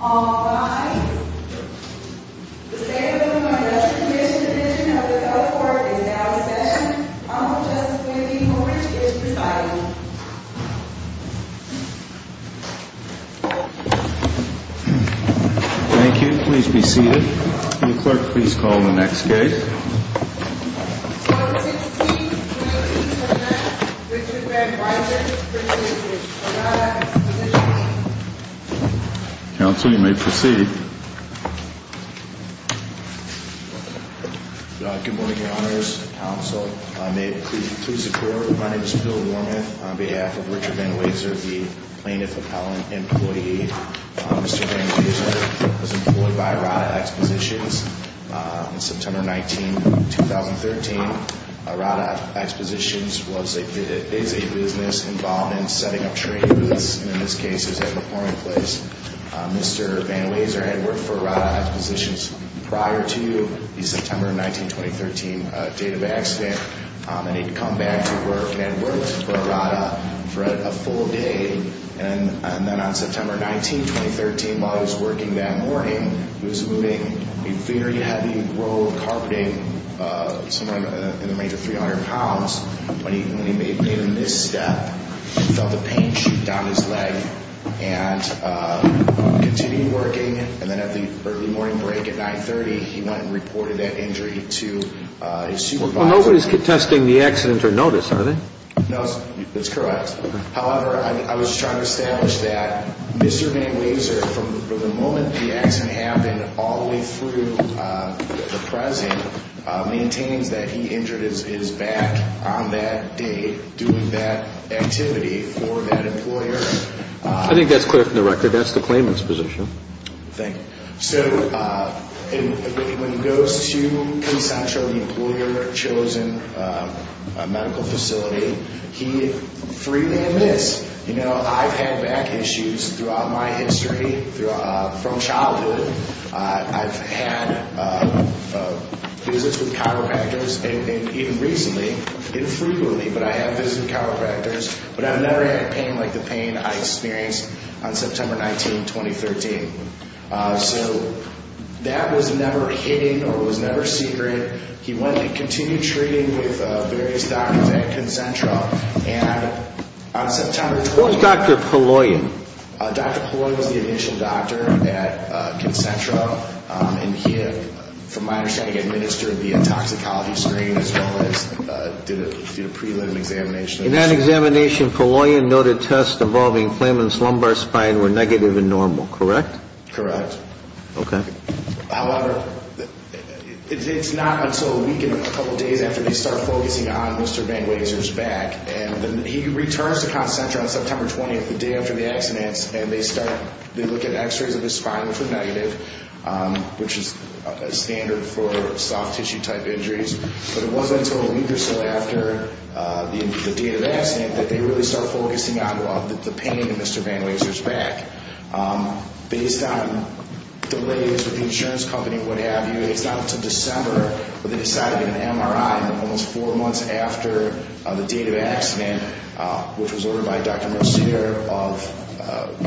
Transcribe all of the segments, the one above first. All rise. The State of the Union Retrocommissioned Division of the Federal Court is now in session. Honorable Justice Wendy Horwich is presiding. Thank you. Please be seated. Will the clerk please call the next case. Case number 16, Plaintiff's Appellant, Richard Van Wazer, Plaintiff's Errata Expositions. Counsel, you may proceed. Good morning, Your Honors and Counsel. May it please the Court, my name is Bill Wormuth. On behalf of Richard Van Wazer, the Plaintiff's Appellant employee, Mr. Van Wazer was employed by Errata Expositions in September 19, 2013. Errata Expositions is a business involved in setting up trade routes. In this case, it was at a performing place. Mr. Van Wazer had worked for Errata Expositions prior to the September 19, 2013, date of accident. And he'd come back to work and worked for Errata for a full day. And then on September 19, 2013, while he was working that morning, he was moving a very heavy roll of carpeting, somewhere in the range of 300 pounds. When he made a misstep, he felt a pain shoot down his leg and continued working. And then at the early morning break at 9.30, he went and reported that injury to his supervisor. Well, nobody's contesting the accident or notice, are they? No, it's correct. However, I was trying to establish that Mr. Van Wazer, from the moment the accident happened all the way through the present, maintains that he injured his back on that date, doing that activity for that employer. I think that's clear from the record. That's the claimant's position. Thank you. So when he goes to Concentro, the employer-chosen medical facility, he freely admits, you know, I've had back issues throughout my history, from childhood. I've had visits with chiropractors, and even recently, infrequently, but I have visited chiropractors. But I've never had pain like the pain I experienced on September 19, 2013. So that was never hidden or was never secret. He went and continued treating with various doctors at Concentro. And on September 12th... Who was Dr. Paloian? Dr. Paloian was the initial doctor at Concentro. And he, from my understanding, administered the toxicology screen as well as did a prelim examination. In that examination, Paloian noted tests involving claimant's lumbar spine were negative and normal, correct? Correct. Okay. However, it's not until a week and a couple days after they start focusing on Mr. Van Wazer's back, and he returns to Concentro on September 20th, the day after the accident, and they start, they look at x-rays of his spine, which were negative, which is a standard for soft tissue-type injuries. But it wasn't until a week or so after the date of the accident that they really start focusing on the pain in Mr. Van Wazer's back. Based on delays with the insurance company, what have you, it's not until December that they decide to get an MRI, and almost four months after the date of the accident, which was ordered by Dr. Moser of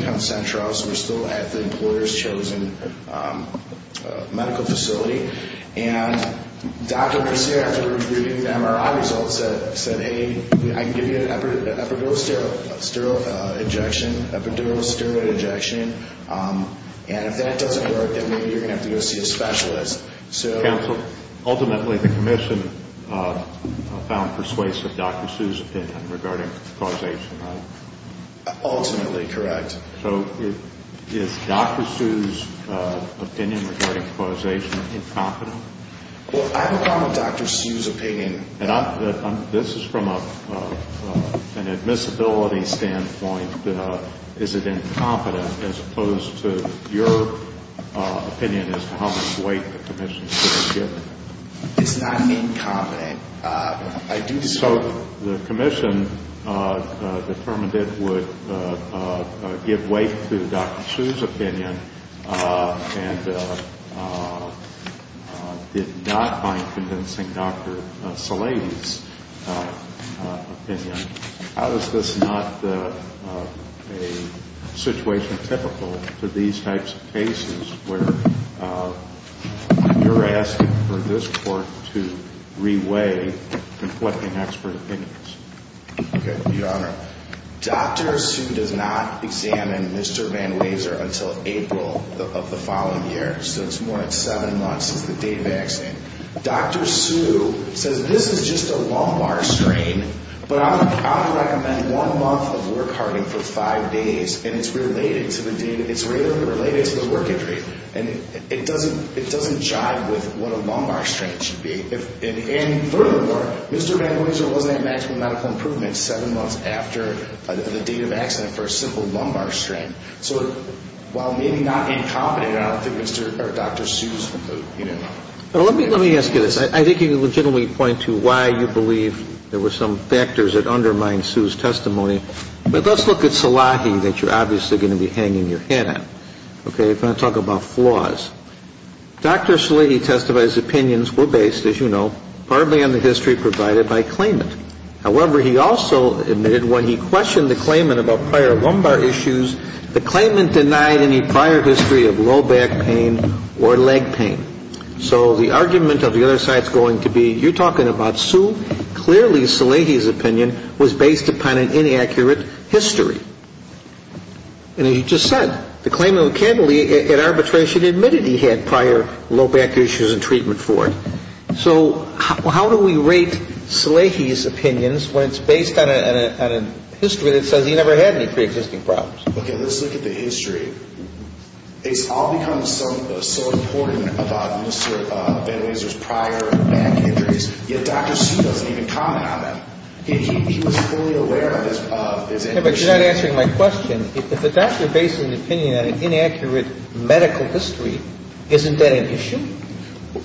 Concentro, so we're still at the employer's chosen medical facility, and Dr. Moser, after reviewing the MRI results, said, hey, I can give you an epidural steroid injection, and if that doesn't work, then maybe you're going to have to go see a specialist. Counsel, ultimately the commission found persuasive Dr. Su's opinion regarding causation, right? Ultimately correct. So is Dr. Su's opinion regarding causation incompetent? Well, I have a comment on Dr. Su's opinion. This is from an admissibility standpoint. Is it incompetent as opposed to your opinion as to how much weight the commission should have given? It's not incompetent. So the commission determined it would give weight to Dr. Su's opinion and did not find convincing Dr. Salady's opinion. How is this not a situation typical to these types of cases where you're asking for this court to re-weigh conflicting expert opinions? Okay, Your Honor, Dr. Su does not examine Mr. Van Wazer until April of the following year, so it's more than seven months since the day of the accident. Dr. Su says this is just a lumbar strain, but I would recommend one month of work harding for five days, and it's related to the work injury. And it doesn't jive with what a lumbar strain should be. And furthermore, Mr. Van Wazer wasn't at maximum medical improvement seven months after the date of accident for a simple lumbar strain. So while maybe not incompetent, I don't think Dr. Su's opinion. Let me ask you this. I think you legitimately point to why you believe there were some factors that undermined Su's testimony. But let's look at Salahi that you're obviously going to be hanging your head at. Okay, we're going to talk about flaws. Dr. Salahi testified his opinions were based, as you know, partly on the history provided by claimant. However, he also admitted when he questioned the claimant about prior lumbar issues, the claimant denied any prior history of low back pain or leg pain. So the argument of the other side is going to be you're talking about Su. Clearly, Salahi's opinion was based upon an inaccurate history. And as you just said, the claimant with Kedlie, in arbitration, admitted he had prior low back issues and treatment for it. So how do we rate Salahi's opinions when it's based on a history that says he never had any preexisting problems? Okay, let's look at the history. It's all become so important about Mr. Van Wazer's prior back injuries. Yet Dr. Su doesn't even comment on that. He was fully aware of his injuries. But you're not answering my question. If the doctor bases an opinion on an inaccurate medical history, isn't that an issue?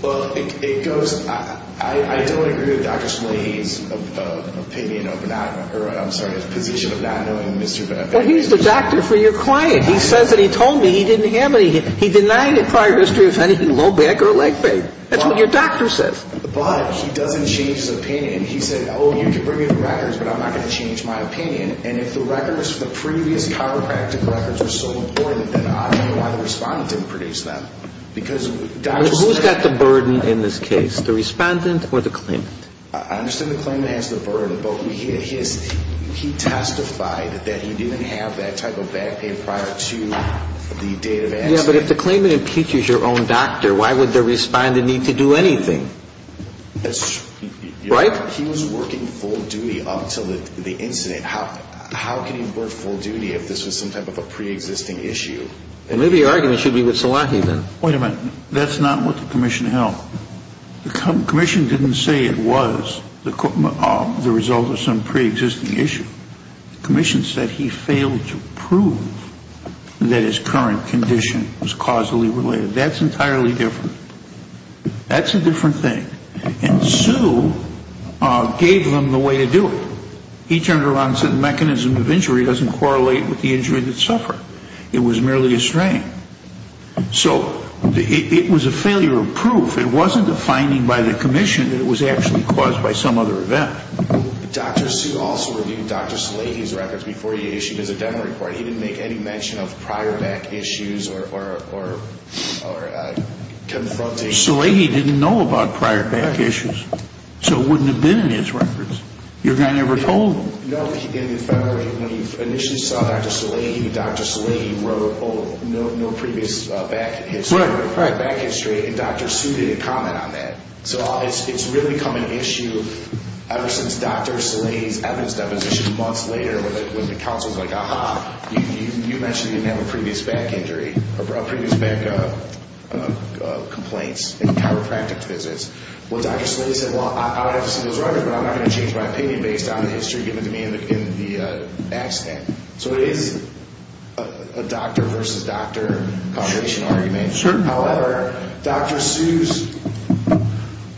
Well, it goes – I don't agree with Dr. Salahi's opinion of not – or I'm sorry, his position of not knowing Mr. Van Wazer's history. Well, he's the doctor for your client. He says that he told me he didn't have any – he denied a prior history of any low back or leg pain. That's what your doctor says. But he doesn't change his opinion. He said, oh, you can bring me the records, but I'm not going to change my opinion. And if the records, the previous chiropractic records are so important, then I don't know why the respondent didn't produce them. Because Dr. Su – Who's got the burden in this case, the respondent or the claimant? I understand the claimant has the burden, but he testified that he didn't have that type of back pain prior to the date of accident. Yeah, but if the claimant impeaches your own doctor, why would the respondent need to do anything? Right? He was working full duty up until the incident. How can he work full duty if this was some type of a pre-existing issue? And maybe your argument should be with Salahi, then. Wait a minute. That's not what the commission held. The commission didn't say it was the result of some pre-existing issue. The commission said he failed to prove that his current condition was causally related. That's entirely different. That's a different thing. And Su gave them the way to do it. He turned around and said the mechanism of injury doesn't correlate with the injury that suffered. It was merely a strain. So it was a failure of proof. It wasn't a finding by the commission that it was actually caused by some other event. Dr. Su also reviewed Dr. Salahi's records before he issued his addendum report. But he didn't make any mention of prior back issues or confronting. Salahi didn't know about prior back issues. So it wouldn't have been in his records. Your guy never told him. No. In February, when he initially saw Dr. Salahi, Dr. Salahi wrote, oh, no previous back history. And Dr. Su didn't comment on that. So it's really become an issue ever since Dr. Salahi's evidence deposition months later when the council is like, ah-ha, you mentioned you didn't have a previous back injury, previous back complaints in chiropractic visits. Well, Dr. Salahi said, well, I would have to see those records, but I'm not going to change my opinion based on the history given to me in the accident. So it is a doctor versus doctor conversation argument. However, Dr. Su's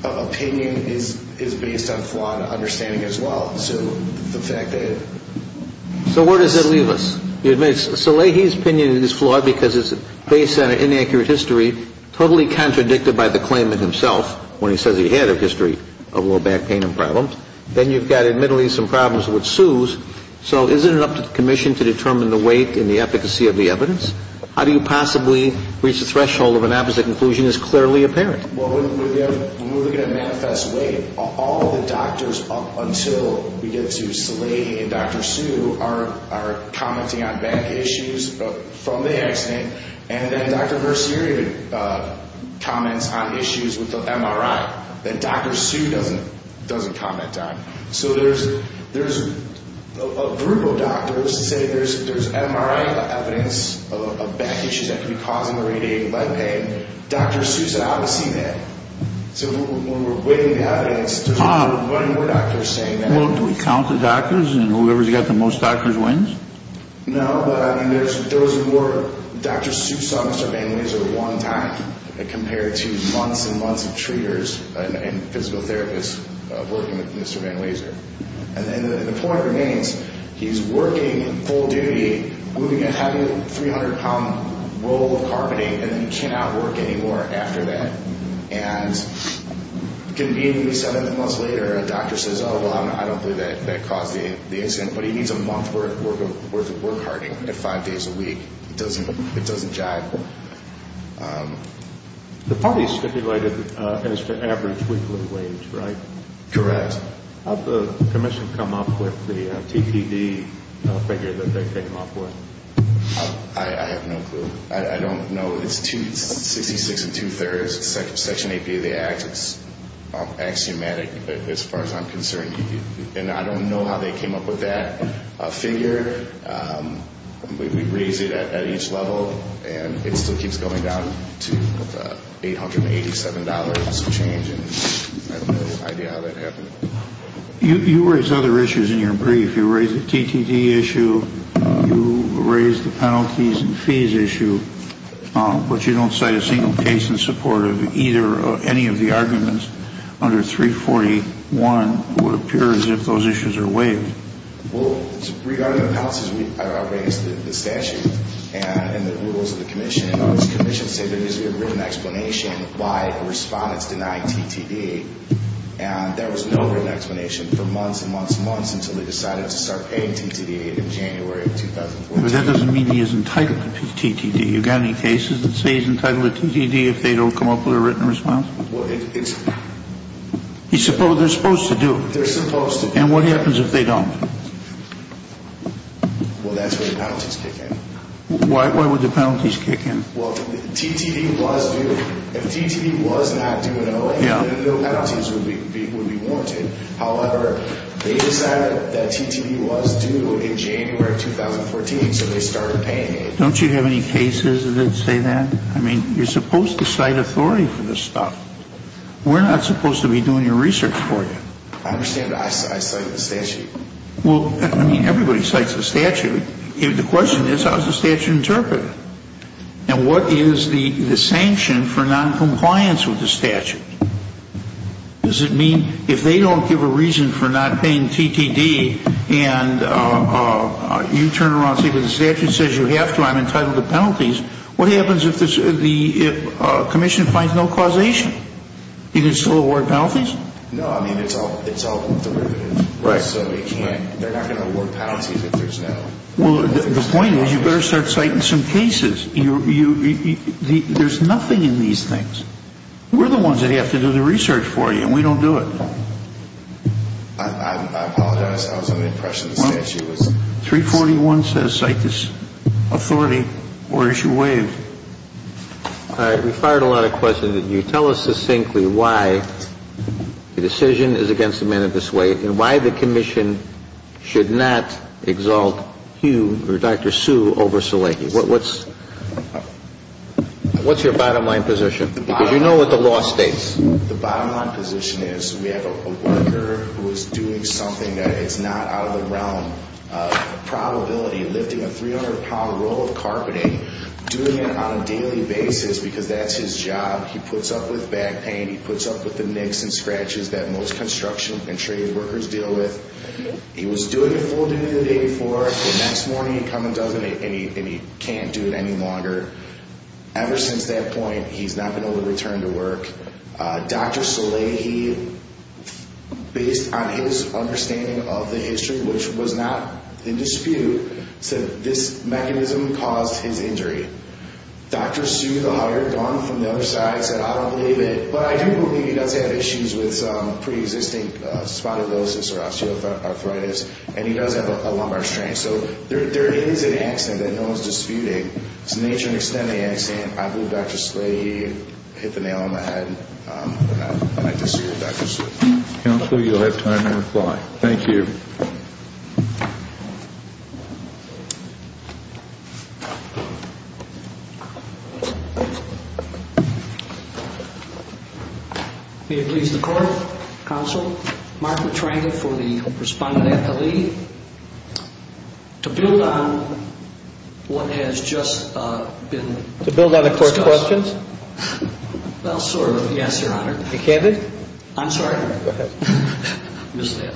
opinion is based on flawed understanding as well. So where does that leave us? Salahi's opinion is flawed because it's based on an inaccurate history, totally contradicted by the claimant himself when he says he had a history of lower back pain and problems. Then you've got, admittedly, some problems with Su's. So isn't it up to the commission to determine the weight and the efficacy of the evidence? How do you possibly reach the threshold of an opposite conclusion is clearly apparent. Well, when we look at a manifest weight, all of the doctors, until we get to Salahi and Dr. Su, are commenting on back issues from the accident. And then Dr. Versieri comments on issues with the MRI that Dr. Su doesn't comment on. So there's a group of doctors that say there's MRI evidence of back issues that could be causing the radiated leg pain. Dr. Su said, I haven't seen that. So when we're waiting to have evidence, there's a group of many more doctors saying that. Well, do we count the doctors and whoever's got the most doctors wins? No, but I mean, there was more Dr. Su saw Mr. Van Wazer one time compared to months and months of treaters and physical therapists working with Mr. Van Wazer. And then the point remains, he's working full duty, having a 300-pound roll of carbonate, and then he cannot work anymore after that. And conveniently, seven months later, a doctor says, oh, well, I don't believe that caused the incident, but he needs a month's worth of work harding at five days a week. It doesn't jive. The party stipulated an average weekly wage, right? Correct. How did the commission come up with the TPD figure that they came up with? I have no clue. I don't know. It's 66 and two-thirds, Section 8B of the Act. It's axiomatic as far as I'm concerned. And I don't know how they came up with that figure. We raised it at each level, and it still keeps going down to $887 change, and I have no idea how that happened. You raised other issues in your brief. You raised the TTD issue. You raised the penalties and fees issue, but you don't cite a single case in support of either or any of the arguments under 341. It would appear as if those issues are waived. Well, regarding the penalties, I raised the statute and the rules of the commission, and those commissions say there is a written explanation why the respondents denied TTD, and there was no written explanation for months and months and months until they decided to start paying TTD in January of 2014. But that doesn't mean he is entitled to TTD. You got any cases that say he's entitled to TTD if they don't come up with a written response? Well, it's – They're supposed to do. They're supposed to do. And what happens if they don't? Well, that's where the penalties kick in. Why would the penalties kick in? Well, TTD was due. If TTD was not due in LA, then no penalties would be warranted. However, they decided that TTD was due in January of 2014, so they started paying it. Don't you have any cases that say that? I mean, you're supposed to cite authority for this stuff. We're not supposed to be doing your research for you. I understand that. I cite the statute. Well, I mean, everybody cites the statute. The question is, how does the statute interpret it? And what is the sanction for noncompliance with the statute? Does it mean if they don't give a reason for not paying TTD and you turn around and say, well, the statute says you have to, I'm entitled to penalties, what happens if the commission finds no causation? You can still award penalties? No, I mean, it's all derivative. Right. So they can't, they're not going to award penalties if there's no. Well, the point is you better start citing some cases. There's nothing in these things. We're the ones that have to do the research for you, and we don't do it. I apologize. I was under the impression the statute was. 341 says cite this authority or issue waived. All right. We've fired a lot of questions. And you tell us succinctly why the decision is against the man of this weight and why the commission should not exalt Hugh or Dr. Sue over Saleki. What's your bottom line position? Because you know what the law states. The bottom line position is we have a worker who is doing something that is not out of the realm of probability, lifting a 300-pound roll of carpeting, doing it on a daily basis because that's his job. He puts up with back pain. He puts up with the nicks and scratches that most construction and trade workers deal with. He was doing it full day to day before. The next morning he comes and does it, and he can't do it any longer. Ever since that point, he's not been able to return to work. Dr. Salehi, based on his understanding of the history, which was not in dispute, said this mechanism caused his injury. Dr. Sue the Hutter, gone from the other side, said I don't believe it. But I do believe he does have issues with preexisting spondylosis or osteoarthritis, and he does have a lumbar strain. So there is an accident that no one is disputing. To the nature and extent of the accident, I believe Dr. Salehi hit the nail on the head, and I disagree with Dr. Sue. Counsel, you'll have time to reply. Thank you. May it please the Court, Counsel. Mark the triangle for the respondent at the lead. To build on what has just been discussed. To build on the Court's questions? Well, sort of, yes, Your Honor. Be candid? I'm sorry? Go ahead. Missed that.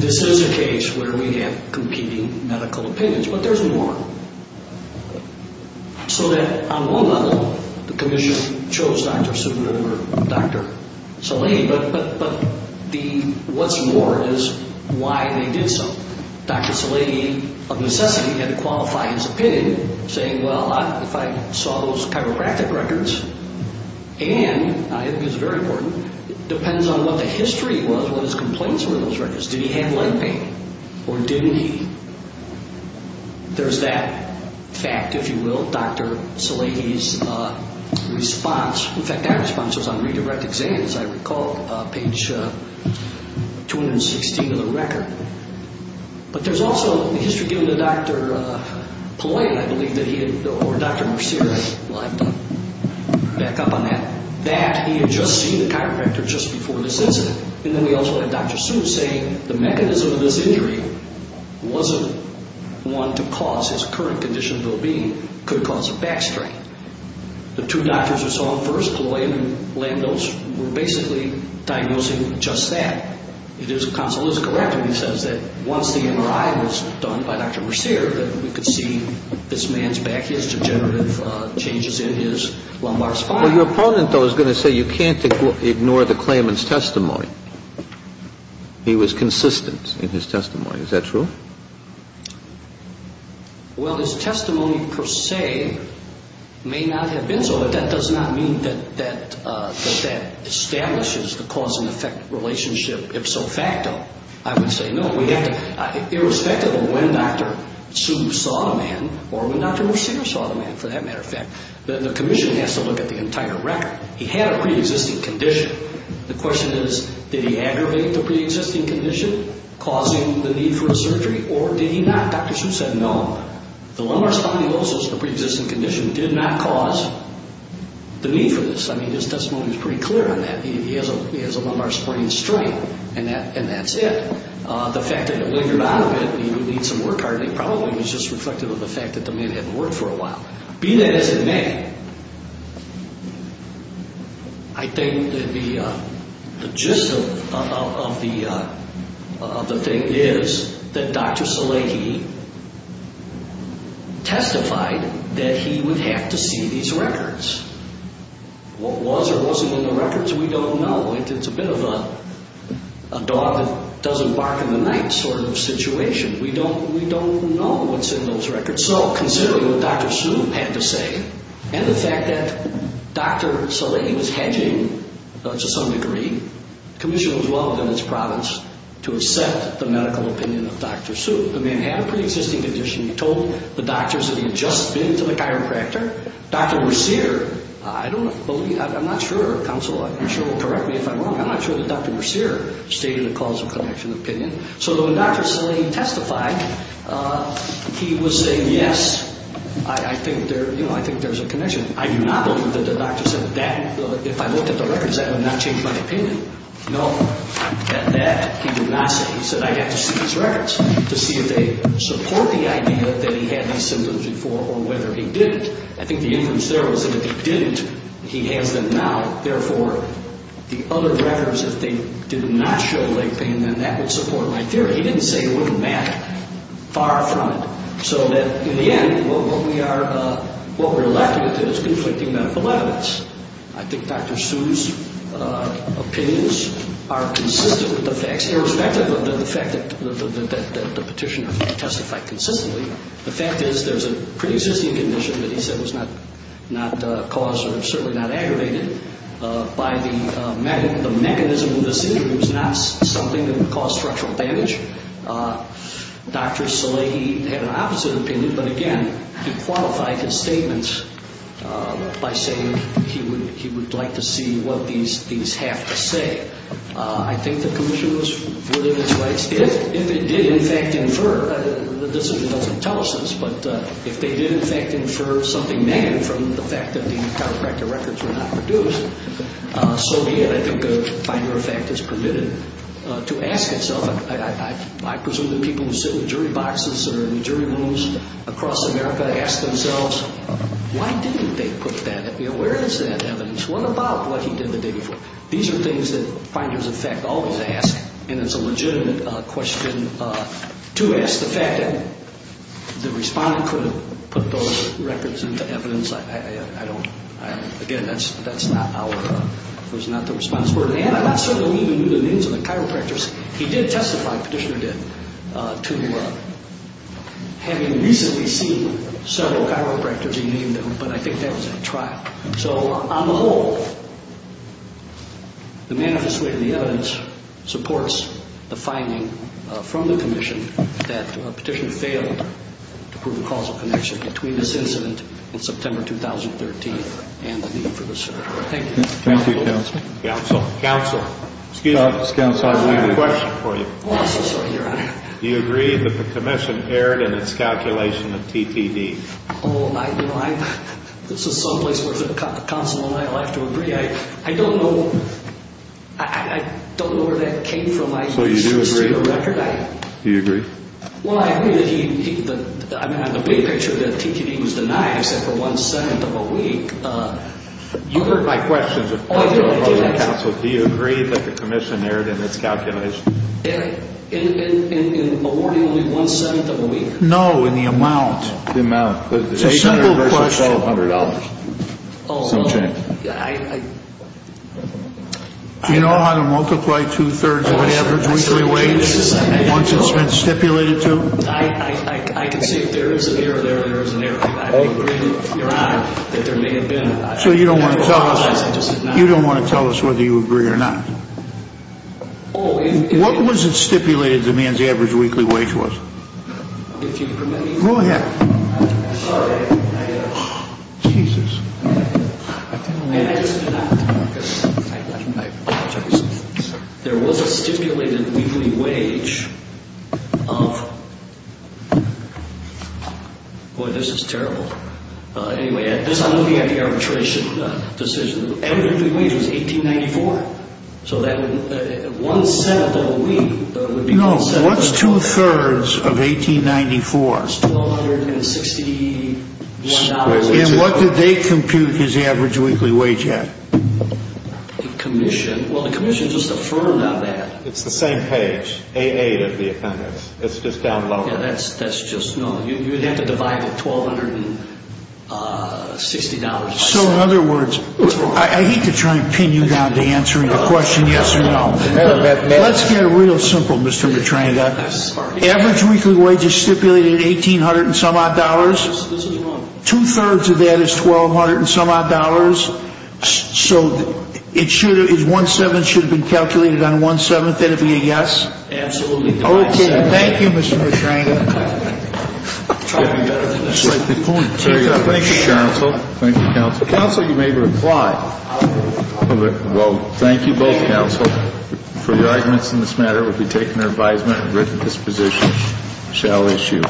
This is a case where we have competing medical opinions, but there's more. So that on one level, the Commission chose Dr. Sue or Dr. Salehi, but the what's more is why they did so. Dr. Salehi, of necessity, had to qualify his opinion, saying, well, if I saw those chiropractic records, and I think this is very important, it depends on what the history was, what his complaints were of those records. Did he have leg pain or didn't he? There's that fact, if you will, Dr. Salehi's response. In fact, that response was on redirect exam, as I recall, page 216 of the record. But there's also the history given to Dr. Palloy, I believe, or Dr. Mercier, I'll have to back up on that, that he had just seen the chiropractor just before this incident. And then we also had Dr. Sue saying the mechanism of this injury wasn't one to cause his current condition of well-being. It could cause a back strain. The two doctors we saw first, Palloy and Landos, were basically diagnosing just that. It is a consolidated corrective. He says that once the MRI was done by Dr. Mercier, that we could see this man's back, his degenerative changes in his lumbar spine. Well, your opponent, though, is going to say you can't ignore the claimant's testimony. He was consistent in his testimony. Is that true? Well, his testimony per se may not have been so, but that does not mean that that establishes the cause and effect relationship ipso facto. I would say no. Irrespective of when Dr. Sue saw the man or when Dr. Mercier saw the man, for that matter of fact, the commission has to look at the entire record. He had a preexisting condition. The question is, did he aggravate the preexisting condition, causing the need for a surgery, or did he not? Dr. Sue said no. The lumbar spondylosis of the preexisting condition did not cause the need for this. I mean, his testimony was pretty clear on that. He has a lumbar sprain strain, and that's it. The fact that it lingered on a bit and he would need some work hardening probably was just reflective of the fact that the man hadn't worked for a while. Be that as it may, I think that the gist of the thing is that Dr. Salehi testified that he would have to see these records. What was or wasn't in the records, we don't know. It's a bit of a dog that doesn't bark in the night sort of situation. We don't know what's in those records. So considering what Dr. Sue had to say and the fact that Dr. Salehi was hedging to some degree, the commission was well within its province to accept the medical opinion of Dr. Sue. The man had a preexisting condition. He told the doctors that he had just been to the chiropractor. Dr. Resier, I don't believe, I'm not sure. Counsel, I'm sure you'll correct me if I'm wrong. I'm not sure that Dr. Resier stated a causal connection opinion. So when Dr. Salehi testified, he was saying, yes, I think there's a connection. I do not believe that the doctor said that if I looked at the records, that would not change my opinion. No, that he did not say. He said I'd have to see these records to see if they support the idea that he had these symptoms before or whether he didn't. I think the inference there was that if he didn't, he has them now. Therefore, the other records, if they did not show leg pain, then that would support my theory. He didn't say it wouldn't matter. Far from it. So that in the end, what we are left with is conflicting medical evidence. I think Dr. Sue's opinions are consistent with the facts, irrespective of the fact that the petitioner testified consistently. The fact is there's a preexisting condition that he said was not caused or certainly not aggravated by the mechanism of the syndrome. It was not something that would cause structural damage. Dr. Salehi had an opposite opinion. But again, he qualified his statements by saying he would like to see what these have to say. I think the commission was within its right stance. If they did, in fact, infer, the decision doesn't tell us this, but if they did, in fact, infer something negative from the fact that these counterparty records were not produced, so, again, I think the finder of fact is permitted to ask itself. I presume the people who sit in the jury boxes or in the jury rooms across America ask themselves, why didn't they put that? Where is that evidence? What about what he did the day before? These are things that finders of fact always ask, and it's a legitimate question to ask the fact that the respondent could have put those records into evidence. I don't, again, that's not our, that was not the respondent's word. And I'm not certain we even knew the names of the chiropractors. He did testify, the petitioner did, to having recently seen several chiropractors. He named them, but I think that was at trial. So, on the whole, the manifest way of the evidence supports the finding from the commission that a petitioner failed to prove a causal connection between this incident in September 2013 and the need for the server. Thank you. Thank you, counsel. Counsel, counsel. Excuse me. Counsel, I have a question for you. Oh, I'm so sorry, Your Honor. Do you agree that the commission erred in its calculation of TPD? Oh, I, you know, I, this is someplace where the counsel and I will have to agree. I don't know, I don't know where that came from. So you do agree? Do you agree? Well, I agree that he, I mean, on the big picture that TPD was denied except for one-seventh of a week. You heard my questions. Counsel, do you agree that the commission erred in its calculation? In awarding only one-seventh of a week? No, in the amount. The amount. It's a simple question. $800 versus $1,200. Oh. It's no change. I, I. Do you know how to multiply two-thirds of an average weekly wage once it's been stipulated to? I, I, I can see if there is an error there, there is an error. I agree, Your Honor, that there may have been. So you don't want to tell us, you don't want to tell us whether you agree or not. Oh, if. What was it stipulated the man's average weekly wage was? If you permit me. Go ahead. I'm sorry. I, I. Jesus. I didn't mean to. I just did not. I, I, I apologize. There was a stipulated weekly wage of, boy, this is terrible. Anyway, this, I'm looking at the arbitration decision. The average weekly wage was $1,894. So that would, one-seventh of a week would be one-seventh of a week. No, what's two-thirds of $1,894? It's $1,261. And what did they compute his average weekly wage at? The commission. Well, the commission just affirmed on that. It's the same page, A8 of the appendix. It's just down lower. Yeah, that's, that's just, no. You, you would have to divide the $1,260. So in other words, I, I hate to try and pin you down to answering the question yes or no. Let's get real simple, Mr. Matranda. Average weekly wage is stipulated at $1,800-and-some-odd dollars. Two-thirds of that is $1,200-and-some-odd dollars. So it should, is one-seventh should have been calculated on one-seventh. That would be a yes? Absolutely. Okay. Thank you, Mr. Matranda. Thank you, counsel. Thank you, counsel. Counsel, you may reply. Well, thank you both, counsel. For the arguments in this matter, it would be taken under advisement that this position shall issue.